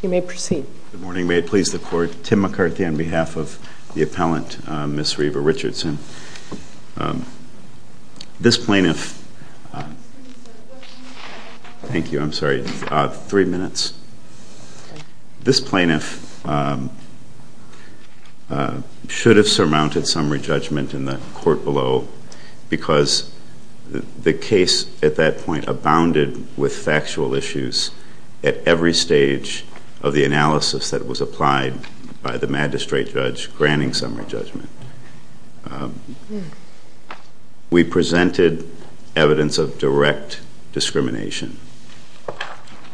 Good morning. May it please the Court, Tim McCarthy on behalf of the appellant, Ms. Reva This plaintiff should have surmounted summary judgment in the court below because the case at that point abounded with factual issues at every stage of the analysis that was applied by the magistrate judge granting summary judgment. We presented evidence of direct discrimination,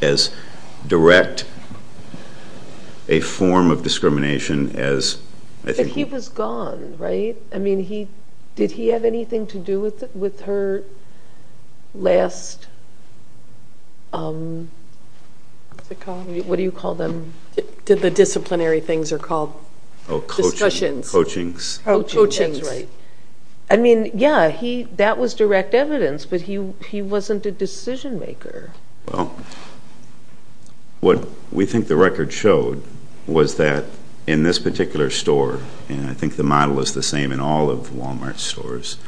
as direct a form of discrimination as... But he was gone, right? I mean, did he have anything to do with her last, what do you call them, the disciplinary things are called? Discussions. Coachings. I mean, yeah, that was direct evidence, but he wasn't a decision maker. Well, what we think the record showed was that in this particular store, and I think the model is the same in all of Wal Mart stores,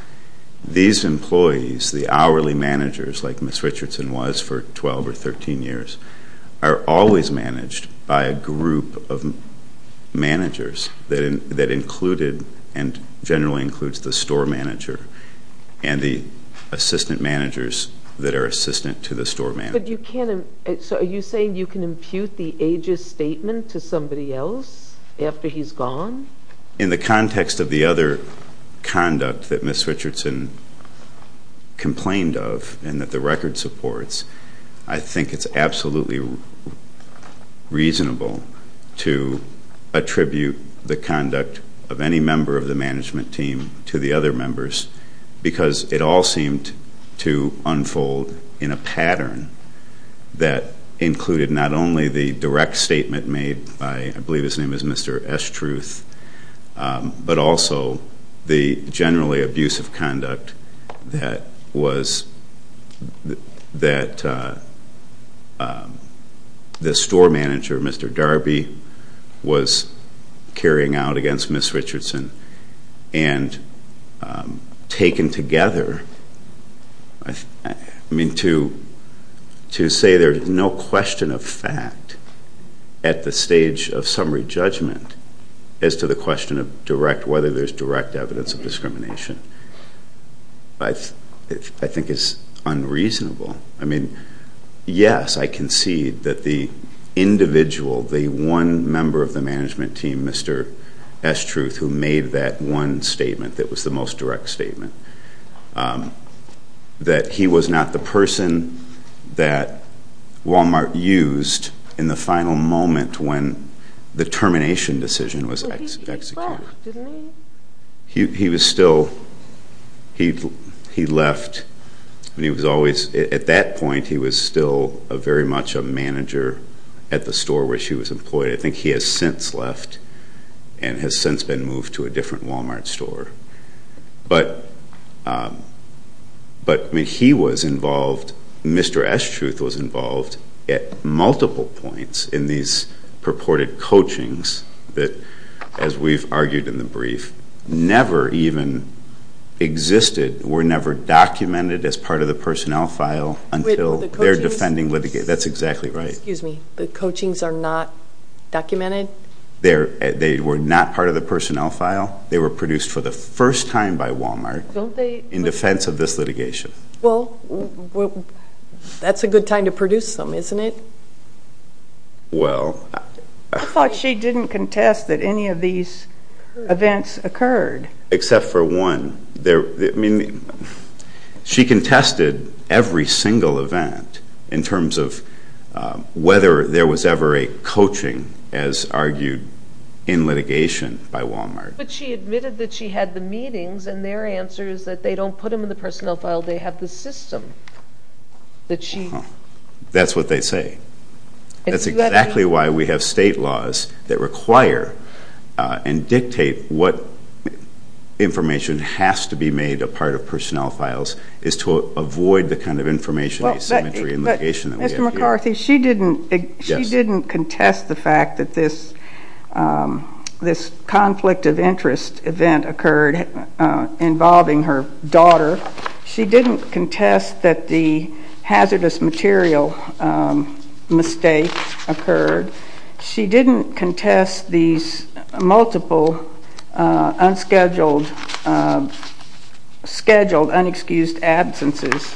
these employees, the hourly managers, like Ms. Richardson was for 12 or 13 years, are always managed by a group of managers that included and generally includes the store manager and the assistant managers that are assistant to the store manager. But you can't, so are you saying you can impute the ages statement to somebody else after he's gone? In the context of the other conduct that Ms. Richardson complained of and that the record supports, I think it's absolutely reasonable to attribute the conduct of any member of the management team to the other members because it all seemed to unfold in a pattern that included not only the direct statement made by, I believe his name is Mr. Estruth, but also the generally abusive conduct that the store manager, Mr. Darby, was carrying out against Ms. Richardson and taken together. I mean, to say there's no question of fact at the stage of summary judgment as to the question of direct, whether there's direct evidence of discrimination, I think is unreasonable. I mean, yes, I concede that the individual, the one member of the management team, Mr. Estruth, who made that one statement that was the most direct statement, that he was not the person that Wal Mart used in the final moment when the termination decision was executed. He was still, he left, and he was always, at that point he was still very much a manager at the store where she was employed. I think he has since left and has since been moved to a different Wal Mart store. But, I mean, he was involved, Mr. Estruth was involved at multiple points in these purported coachings that, as we've argued in the brief, never even existed, were never documented as part of the personnel file until their defending litigation. That's exactly right. Excuse me, the coachings are not documented? They were not part of the personnel file. They were produced for the first time by Wal Mart in defense of this litigation. Well, that's a good time to produce them, isn't it? Well... I thought she didn't contest that any of these events occurred. Except for one. I mean, she contested every single event in terms of whether there was ever a coaching, as argued in litigation by Wal Mart. But she admitted that she had the meetings, and their answer is that they don't put them in the personnel file, they have the system that she... information has to be made a part of personnel files is to avoid the kind of information asymmetry in litigation that we have here. But, Ms. McCarthy, she didn't contest the fact that this conflict of interest event occurred involving her daughter. She didn't contest that the hazardous material mistake occurred. She didn't contest these multiple unscheduled, scheduled, unexcused absences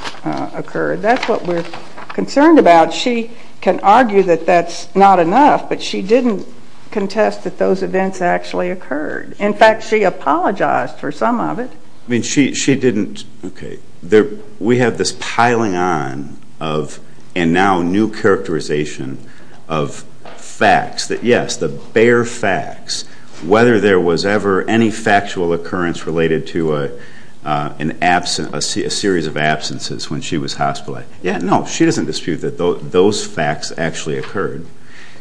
occurred. That's what we're concerned about. She can argue that that's not enough, but she didn't contest that those events actually occurred. In fact, she apologized for some of it. I mean, she didn't... We have this piling on of, and now new characterization of, facts. That, yes, the bare facts, whether there was ever any factual occurrence related to a series of absences when she was hospitalized. Yeah, no, she doesn't dispute that those facts actually occurred.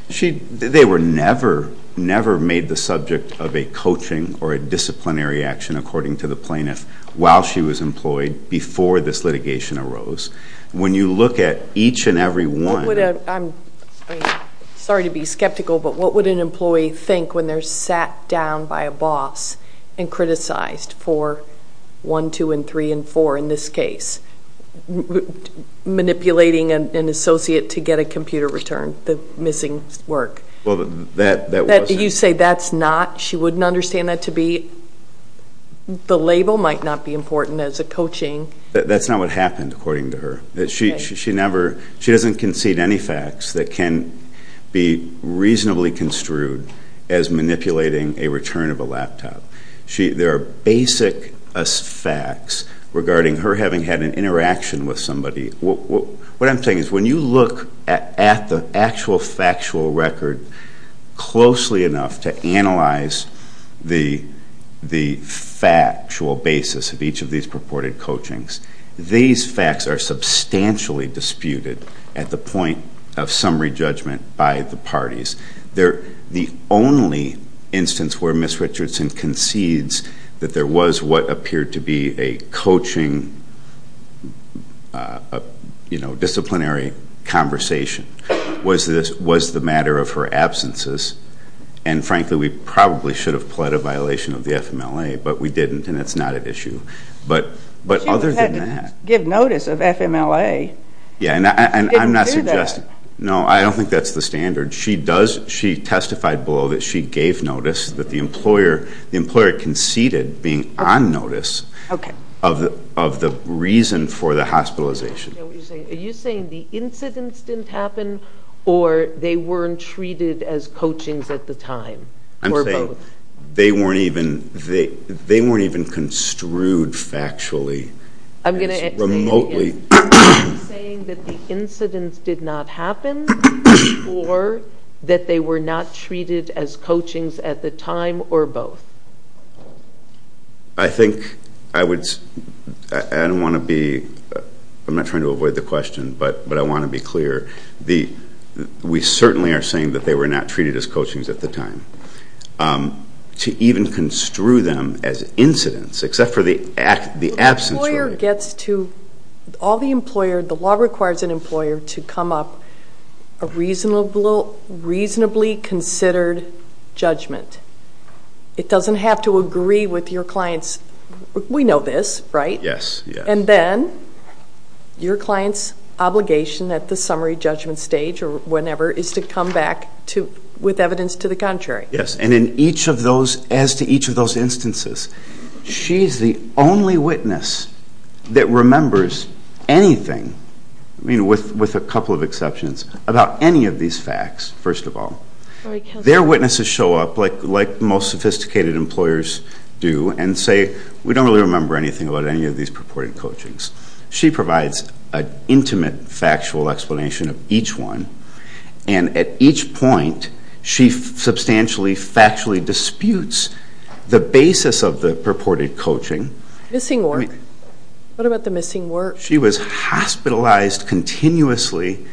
They were never, never made the subject of a coaching or a disciplinary action, according to the plaintiff, while she was employed, before this litigation arose. When you look at each and every one... I'm sorry to be skeptical, but what would an employee think when they're sat down by a boss and criticized for 1, 2, and 3, and 4, in this case, manipulating an associate to get a computer return? The missing work. Well, that wasn't... You say that's not? She wouldn't understand that to be... The label might not be important as a coaching. That's not what happened, according to her. She doesn't concede any facts that can be reasonably construed as manipulating a return of a laptop. There are basic facts regarding her having had an interaction with somebody. What I'm saying is when you look at the actual factual record closely enough to analyze the factual basis of each of these purported coachings, these facts are substantially disputed at the point of summary judgment by the parties. The only instance where Ms. Richardson concedes that there was what appeared to be a coaching, a disciplinary conversation, was the matter of her absences. And frankly, we probably should have pled a violation of the FMLA, but we didn't, and it's not at issue. But other than that... She would have had to give notice of FMLA. She didn't do that. No, I don't think that's the standard. She testified below that she gave notice, that the employer conceded being on notice of the reason for the hospitalization. Are you saying the incidents didn't happen, or they weren't treated as coachings at the time? I'm saying they weren't even construed factually as remotely... Or that they were not treated as coachings at the time, or both? I think I would... I don't want to be... I'm not trying to avoid the question, but I want to be clear. We certainly are saying that they were not treated as coachings at the time. To even construe them as incidents, except for the absence... The law requires an employer to come up with a reasonably considered judgment. It doesn't have to agree with your client's... We know this, right? Yes, yes. And then, your client's obligation at the summary judgment stage, or whenever, is to come back with evidence to the contrary. Yes, and in each of those... As to each of those instances, she's the only witness that remembers anything, I mean, with a couple of exceptions, about any of these facts, first of all. Their witnesses show up, like most sophisticated employers do, and say, we don't really remember anything about any of these purported coachings. She provides an intimate, factual explanation of each one, and at each point, she substantially, factually disputes the basis of the purported coaching. Missing work. What about the missing work? She was hospitalized continuously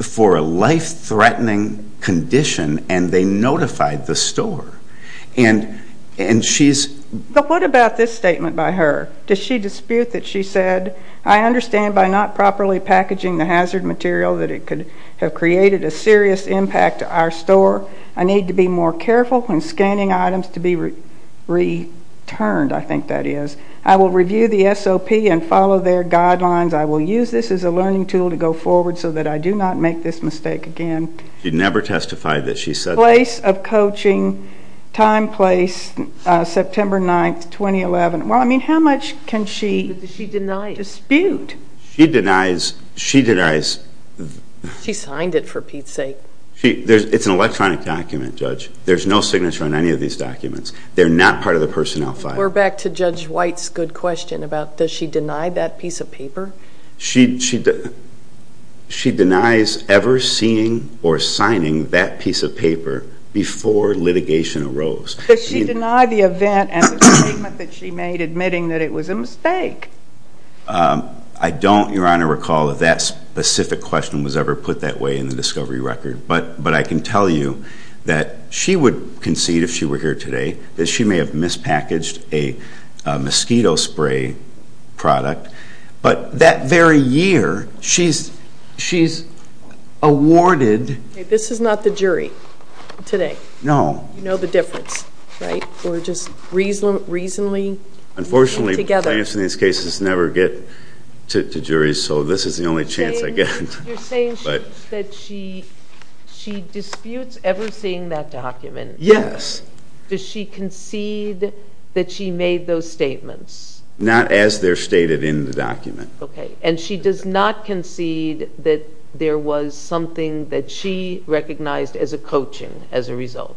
for a life-threatening condition, and they notified the store. And she's... But what about this statement by her? Does she dispute that she said, I understand by not properly packaging the hazard material that it could have created a serious impact to our store. I need to be more careful when scanning items to be returned, I think that is. I will review the SOP and follow their guidelines. I will use this as a learning tool to go forward so that I do not make this mistake again. She never testified that she said... Place of coaching, time, place, September 9th, 2011. Well, I mean, how much can she dispute? She denies... She signed it, for Pete's sake. It's an electronic document, Judge. There's no signature on any of these documents. They're not part of the personnel file. We're back to Judge White's good question about, does she deny that piece of paper? She denies ever seeing or signing that piece of paper before litigation arose. Does she deny the event and the statement that she made admitting that it was a mistake? I don't, Your Honor, recall if that specific question was ever put that way in the discovery record. But I can tell you that she would concede, if she were here today, that she may have mispackaged a mosquito spray product. But that very year, she's awarded... This is not the jury today. No. You know the difference, right? Or just reasonably? Unfortunately, clients in these cases never get to juries, so this is the only chance I get. You're saying that she disputes ever seeing that document? Yes. Does she concede that she made those statements? Not as they're stated in the document. Okay. And she does not concede that there was something that she recognized as a coaching as a result?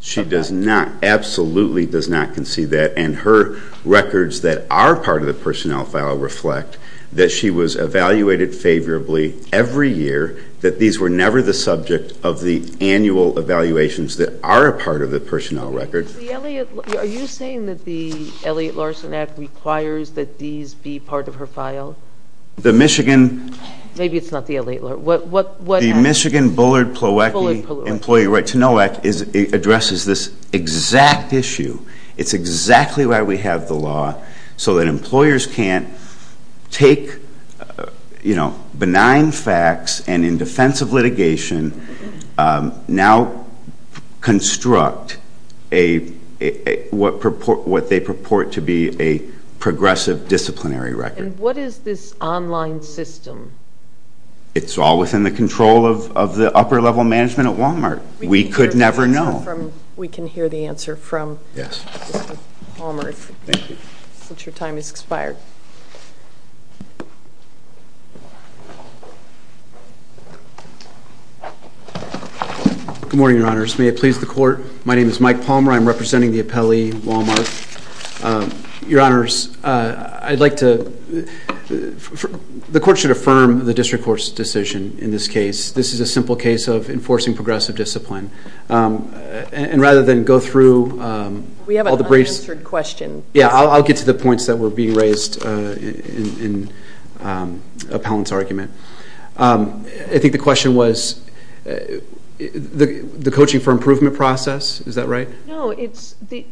She does not, absolutely does not concede that. And her records that are part of the personnel file reflect that she was evaluated favorably every year, that these were never the subject of the annual evaluations that are a part of the personnel record. Are you saying that the Elliott-Larson Act requires that these be part of her file? The Michigan... Maybe it's not the Elliott-Larson. The Michigan Bullard-Ploiecki Employee Right to Know Act addresses this exact issue. It's exactly why we have the law, so that employers can't take, you know, benign facts and in defense of litigation now construct what they purport to be a progressive disciplinary record. And what is this online system? It's all within the control of the upper-level management at Walmart. We could never know. We can hear the answer from Mr. Palmer since your time has expired. Good morning, Your Honors. May it please the Court, my name is Mike Palmer. I'm representing the appellee, Walmart. Your Honors, I'd like to... The Court should affirm the District Court's decision in this case. This is a simple case of enforcing progressive discipline. And rather than go through all the briefs... We have an unanswered question. I think the question was the coaching for improvement process. Is that right? No, it's the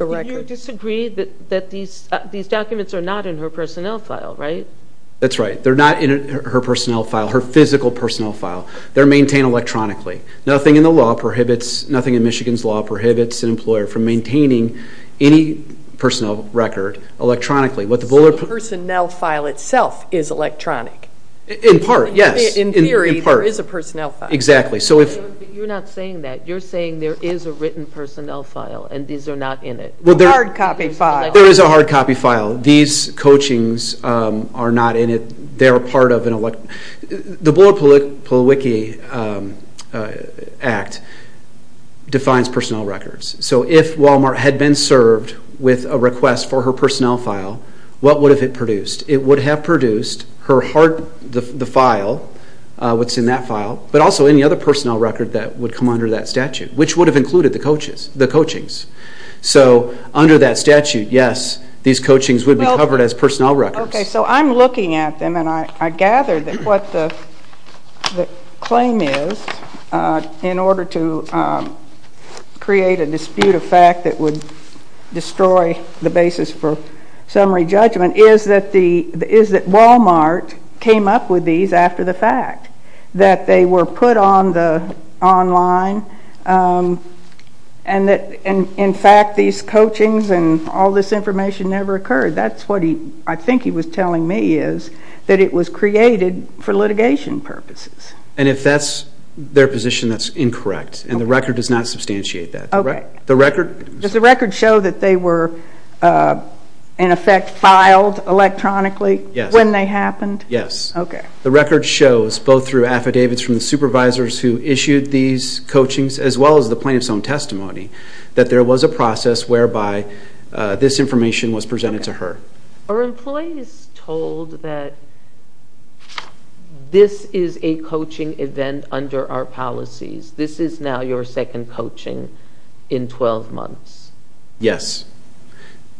record. You disagree that these documents are not in her personnel file, right? That's right. They're not in her personnel file, her physical personnel file. They're maintained electronically. Nothing in the law prohibits, nothing in Michigan's law prohibits an employer from maintaining any personnel record electronically. The personnel file itself is electronic. In part, yes. In theory, there is a personnel file. Exactly. You're not saying that. You're saying there is a written personnel file and these are not in it. A hard copy file. There is a hard copy file. These coachings are not in it. They're part of an elect... The Bullard-Pulwicky Act defines personnel records. So if Wal-Mart had been served with a request for her personnel file, what would have it produced? It would have produced the file, what's in that file, but also any other personnel record that would come under that statute, which would have included the coachings. So under that statute, yes, these coachings would be covered as personnel records. Okay, so I'm looking at them and I gather that what the claim is, in order to create a dispute of fact that would destroy the basis for summary judgment, is that Wal-Mart came up with these after the fact, that they were put online and that, in fact, these coachings and all this information never occurred. That's what I think he was telling me is that it was created for litigation purposes. And if that's their position, that's incorrect. And the record does not substantiate that. Does the record show that they were, in effect, filed electronically when they happened? Yes. Okay. The record shows, both through affidavits from the supervisors who issued these coachings as well as the plaintiff's own testimony, that there was a process whereby this information was presented to her. Are employees told that this is a coaching event under our policies? This is now your second coaching in 12 months? Yes.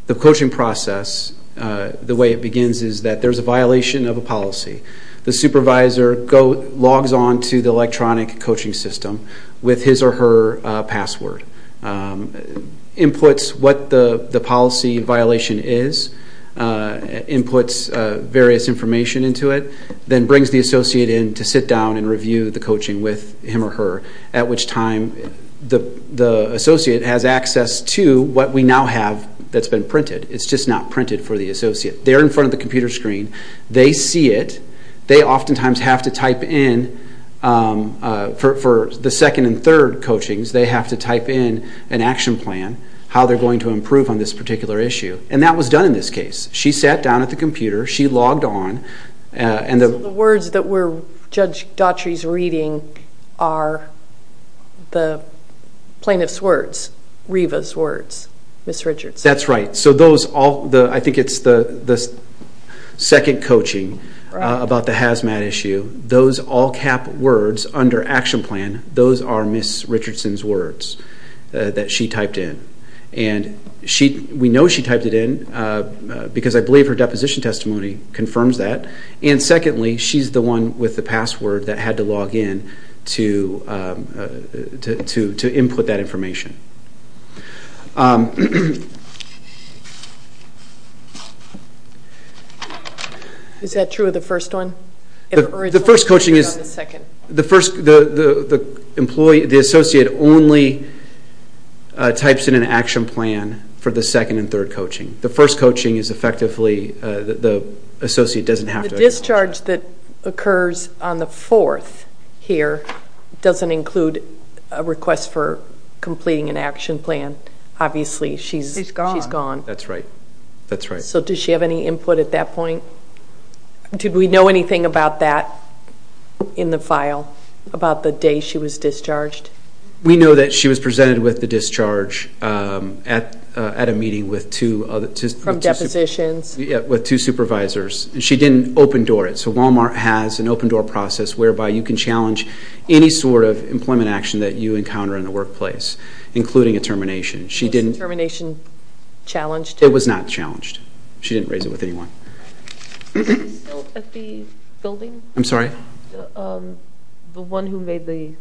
The coaching process, the way it begins, is that there's a violation of a policy. The supervisor logs on to the electronic coaching system with his or her password, inputs what the policy violation is, inputs various information into it, then brings the associate in to sit down and review the coaching with him or her, at which time the associate has access to what we now have that's been printed. It's just not printed for the associate. They're in front of the computer screen. They see it. They oftentimes have to type in, for the second and third coachings, they have to type in an action plan, how they're going to improve on this particular issue. And that was done in this case. She sat down at the computer. She logged on. So the words that were Judge Daughtry's reading are the plaintiff's words, Reva's words, Ms. Richardson? That's right. I think it's the second coaching about the hazmat issue. Those all-cap words under action plan, those are Ms. Richardson's words that she typed in. We know she typed it in because I believe her deposition testimony confirms that. And secondly, she's the one with the password that had to log in to input that information. Is that true of the first one? The first coaching is the associate only types in an action plan for the second and third coaching. The first coaching is effectively the associate doesn't have to. The discharge that occurs on the fourth here doesn't include a request for completing an action plan, obviously. She's gone. She's gone. That's right. So does she have any input at that point? Did we know anything about that in the file, about the day she was discharged? We know that she was presented with the discharge at a meeting with two other – From depositions? Yeah, with two supervisors. She didn't open door it. So Walmart has an open door process whereby you can challenge any sort of employment action that you encounter in the workplace, including a termination. Was the termination challenged? It was not challenged. She didn't raise it with anyone. Is he still at the building? I'm sorry? The one who made the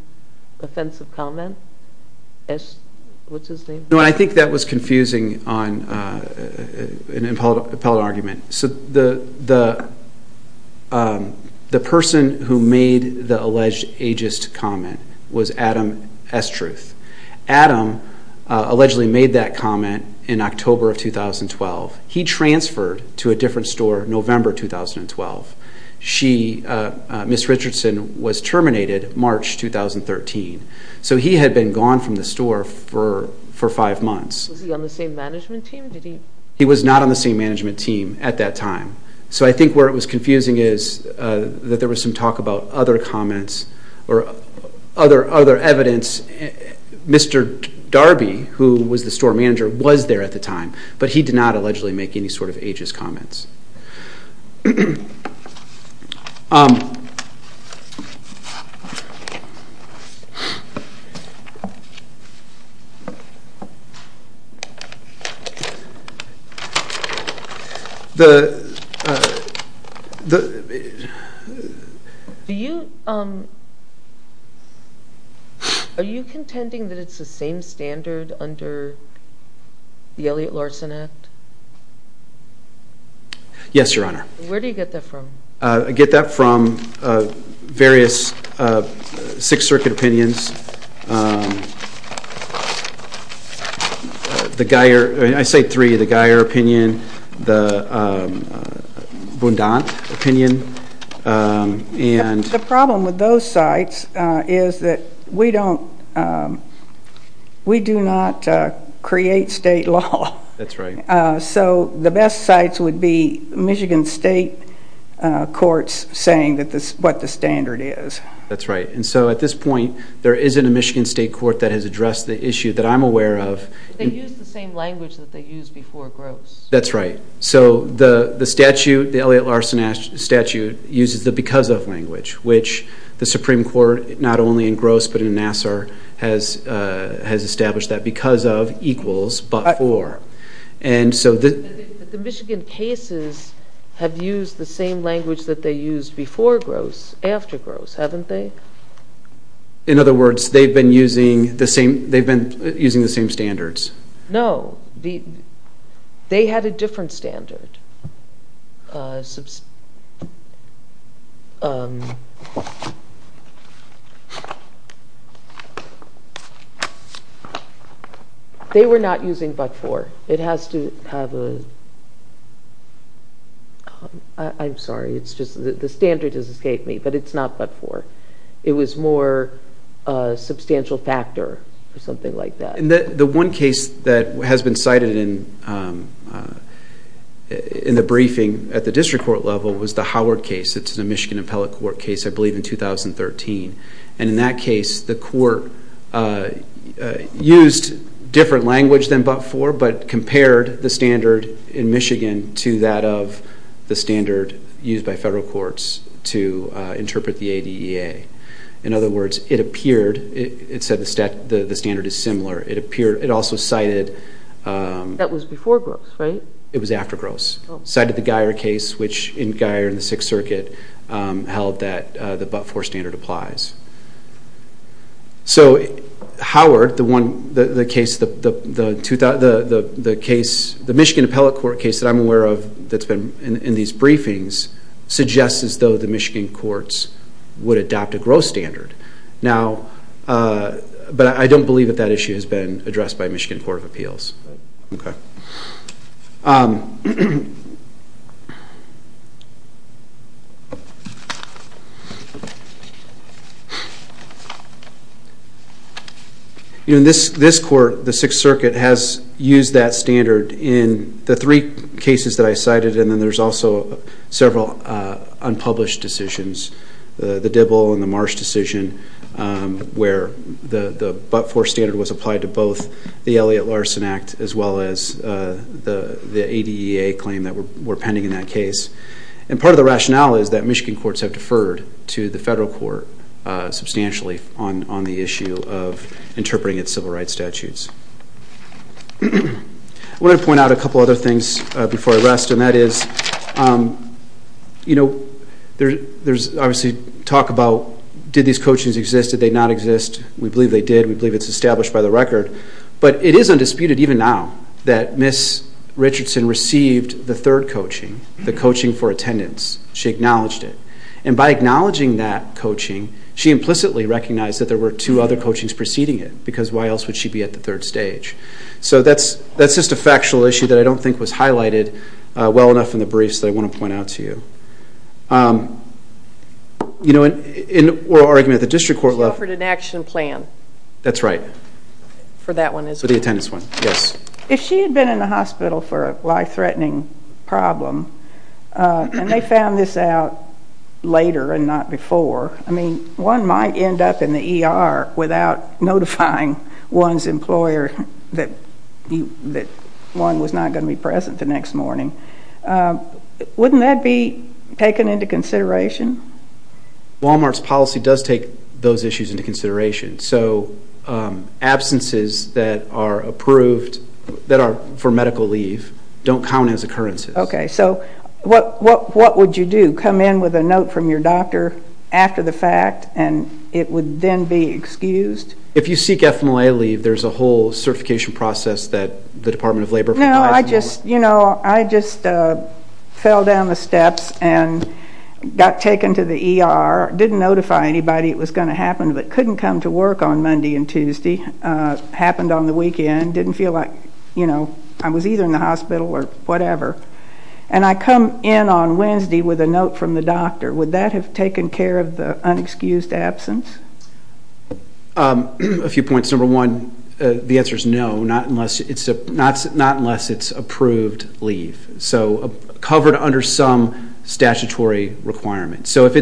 offensive comment? What's his name? No, I think that was confusing on an appellate argument. So the person who made the alleged ageist comment was Adam Estruth. Adam allegedly made that comment in October of 2012. He transferred to a different store November 2012. Ms. Richardson was terminated March 2013. So he had been gone from the store for five months. Was he on the same management team? He was not on the same management team at that time. So I think where it was confusing is that there was some talk about other comments or other evidence. Mr. Darby, who was the store manager, was there at the time, but he did not allegedly make any sort of ageist comments. Are you contending that it's the same standard under the Elliott-Larsen Act? Yes, Your Honor. Where do you get that from? I get that from various Sixth Circuit opinions, the Geyer, I say three, the Geyer opinion, the Bundant opinion. The problem with those sites is that we do not create state law. So the best sites would be Michigan state courts saying what the standard is. That's right. And so at this point, there isn't a Michigan state court that has addressed the issue that I'm aware of. They use the same language that they used before Gross. That's right. So the statute, the Elliott-Larsen statute, uses the because of language, which the Supreme Court, not only in Gross but in Nassar, has established that because of equals but for. But the Michigan cases have used the same language that they used before Gross, after Gross, haven't they? In other words, they've been using the same standards. No. They had a different standard. They were not using but for. It has to have a, I'm sorry, it's just the standard has escaped me, but it's not but for. It was more substantial factor or something like that. The one case that has been cited in the briefing at the district court level was the Howard case. It's a Michigan appellate court case, I believe, in 2013. And in that case, the court used different language than but for, but compared the standard in Michigan to that of the standard used by federal courts to interpret the ADEA. In other words, it appeared, it said the standard is similar. It also cited... That was before Gross, right? It was after Gross. Cited the Geier case, which in Geier in the Sixth Circuit held that the but for standard applies. So Howard, the one, the case, the Michigan appellate court case that I'm aware of that's been in these briefings, suggests as though the Michigan courts would adopt a Gross standard. Now, but I don't believe that that issue has been addressed by Michigan Court of Appeals. Okay. In this court, the Sixth Circuit has used that standard in the three cases that I cited and then there's also several unpublished decisions, the Dibble and the Marsh decision, where the but for standard was applied to both the Elliott-Larsen Act as well as the ADEA claim that were pending in that case. And part of the rationale is that Michigan courts have deferred to the federal court substantially on the issue of interpreting its civil rights statutes. I want to point out a couple other things before I rest, and that is, you know, there's obviously talk about did these coachings exist, did they not exist. We believe they did. We believe it's established by the record. But it is undisputed even now that Ms. Richardson received the third coaching, the coaching for attendance. She acknowledged it. And by acknowledging that coaching, she implicitly recognized that there were two other coachings preceding it because why else would she be at the third stage. So that's just a factual issue that I don't think was highlighted well enough in the briefs that I want to point out to you. You know, in oral argument, the district court left. She offered an action plan. That's right. For that one as well. For the attendance one, yes. If she had been in the hospital for a life-threatening problem and they found this out later and not before, I mean, one might end up in the ER without notifying one's employer that one was not going to be present the next morning. Wouldn't that be taken into consideration? Walmart's policy does take those issues into consideration. So absences that are approved, that are for medical leave, don't count as occurrences. Okay. So what would you do? Would you come in with a note from your doctor after the fact and it would then be excused? If you seek FMLA leave, there's a whole certification process that the Department of Labor provides. No, I just fell down the steps and got taken to the ER, didn't notify anybody it was going to happen, but couldn't come to work on Monday and Tuesday. Happened on the weekend, didn't feel like I was either in the hospital or whatever. And I come in on Wednesday with a note from the doctor. Would that have taken care of the unexcused absence? A few points. Number one, the answer is no, not unless it's approved leave, so covered under some statutory requirements. So if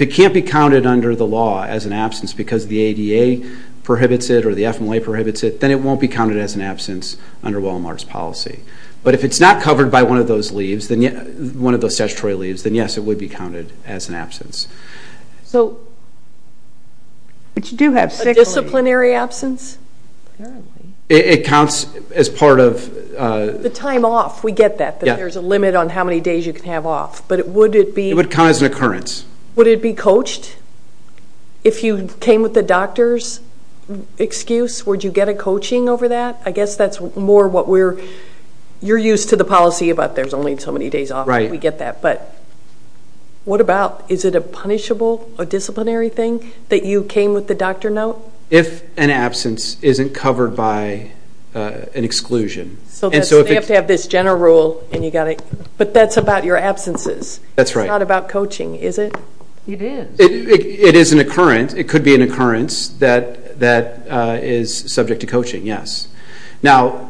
it can't be counted under the law as an absence because the ADA prohibits it or the FMLA prohibits it, then it won't be counted as an absence under Walmart's policy. But if it's not covered by one of those statutory leaves, then yes, it would be counted as an absence. But you do have six. A disciplinary absence? It counts as part of... The time off. We get that, that there's a limit on how many days you can have off. But would it be... It would count as an occurrence. Would it be coached? If you came with the doctor's excuse, would you get a coaching over that? I guess that's more what we're... You're used to the policy about there's only so many days off. We get that. But what about, is it a punishable, a disciplinary thing, that you came with the doctor note? If an absence isn't covered by an exclusion. So they have to have this general rule and you've got to... But that's about your absences. That's right. It's not about coaching, is it? It is. It is an occurrence. It could be an occurrence that is subject to coaching, yes. Now,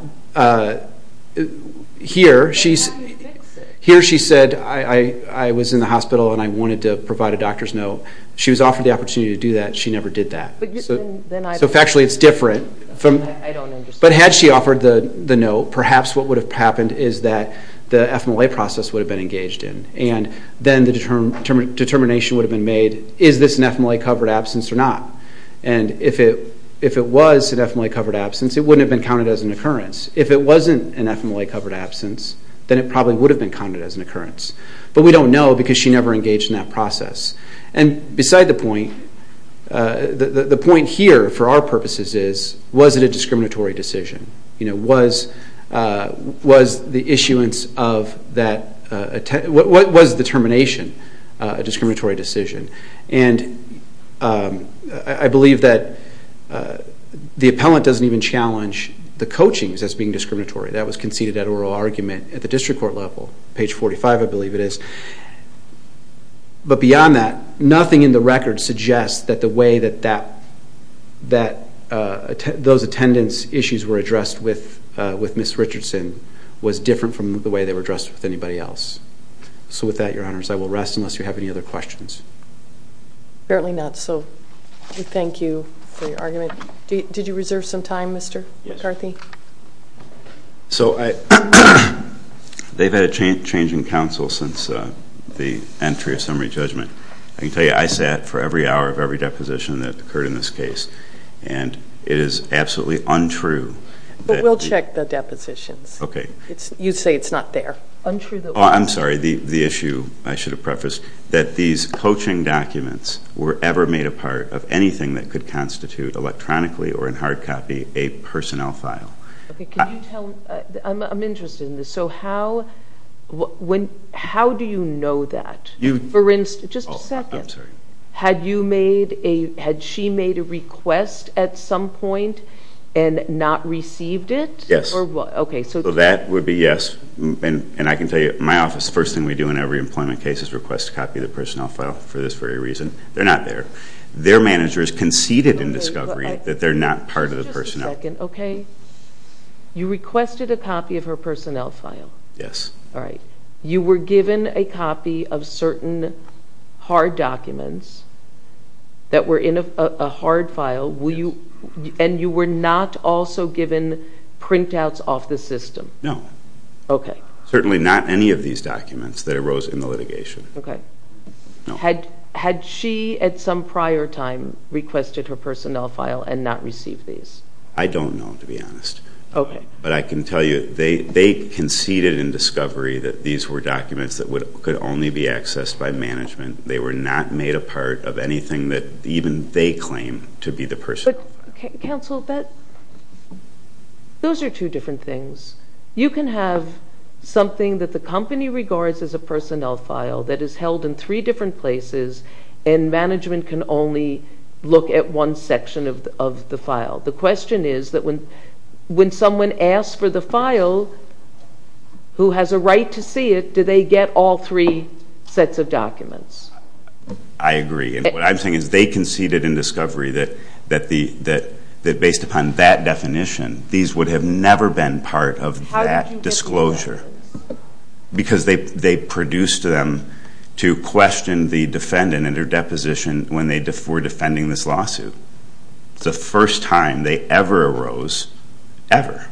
here she said, I was in the hospital and I wanted to provide a doctor's note. She was offered the opportunity to do that. She never did that. So factually it's different. But had she offered the note, perhaps what would have happened is that the FMLA process would have been engaged in. And then the determination would have been made, is this an FMLA-covered absence or not? And if it was an FMLA-covered absence, it wouldn't have been counted as an occurrence. If it wasn't an FMLA-covered absence, then it probably would have been counted as an occurrence. But we don't know because she never engaged in that process. And beside the point, the point here for our purposes is, was it a discriminatory decision? Was the issuance of that... What was the termination a discriminatory decision? And I believe that the appellant doesn't even challenge the coachings as being discriminatory. That was conceded at oral argument at the district court level. Page 45, I believe it is. But beyond that, nothing in the record suggests that the way that those attendance issues were addressed with Ms. Richardson was different from the way they were addressed with anybody else. So with that, Your Honors, I will rest unless you have any other questions. Apparently not. So we thank you for your argument. Did you reserve some time, Mr. McCarthy? Yes. So they've had a change in counsel since the entry of summary judgment. I can tell you, I sat for every hour of every deposition that occurred in this case. And it is absolutely untrue that... You say it's not there. I'm sorry, the issue I should have prefaced, that these coaching documents were ever made a part of anything that could constitute electronically or in hard copy a personnel file. I'm interested in this. So how do you know that? Just a second. Had she made a request at some point and not received it? Yes. So that would be yes. And I can tell you, my office, the first thing we do in every employment case is request a copy of the personnel file for this very reason. They're not there. Their managers conceded in discovery that they're not part of the personnel. Just a second. You requested a copy of her personnel file. Yes. All right. You were given a copy of certain hard documents that were in a hard file. And you were not also given printouts off the system? No. Okay. Certainly not any of these documents that arose in the litigation. Okay. No. Had she at some prior time requested her personnel file and not received these? I don't know, to be honest. Okay. But I can tell you they conceded in discovery that these were documents that could only be accessed by management. They were not made a part of anything that even they claim to be the personnel. But, counsel, those are two different things. You can have something that the company regards as a personnel file that is held in three different places, and management can only look at one section of the file. The question is that when someone asks for the file, who has a right to see it, do they get all three sets of documents? I agree. What I'm saying is they conceded in discovery that based upon that definition, these would have never been part of that disclosure. How did you get to know this? Because they produced them to question the defendant and her deposition when they were defending this lawsuit. It's the first time they ever arose, ever.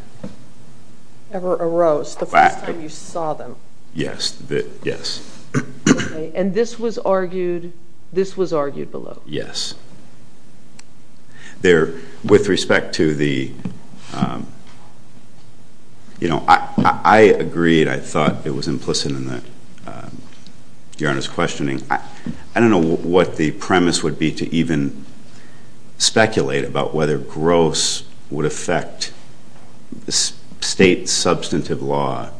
Ever arose. The first time you saw them. Yes. Okay. And this was argued below. Yes. I agreed. I thought it was implicit in the Your Honor's questioning. I don't know what the premise would be to even speculate about whether gross would affect state substantive law.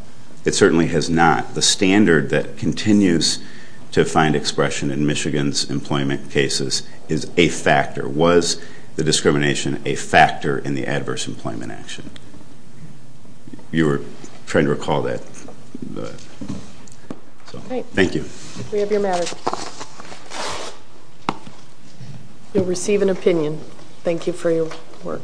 It certainly has not. The standard that continues to find expression in Michigan's employment cases is a factor. Was the discrimination a factor in the adverse employment action? You were trying to recall that. Thank you. We have your matter. You'll receive an opinion. Thank you for your work.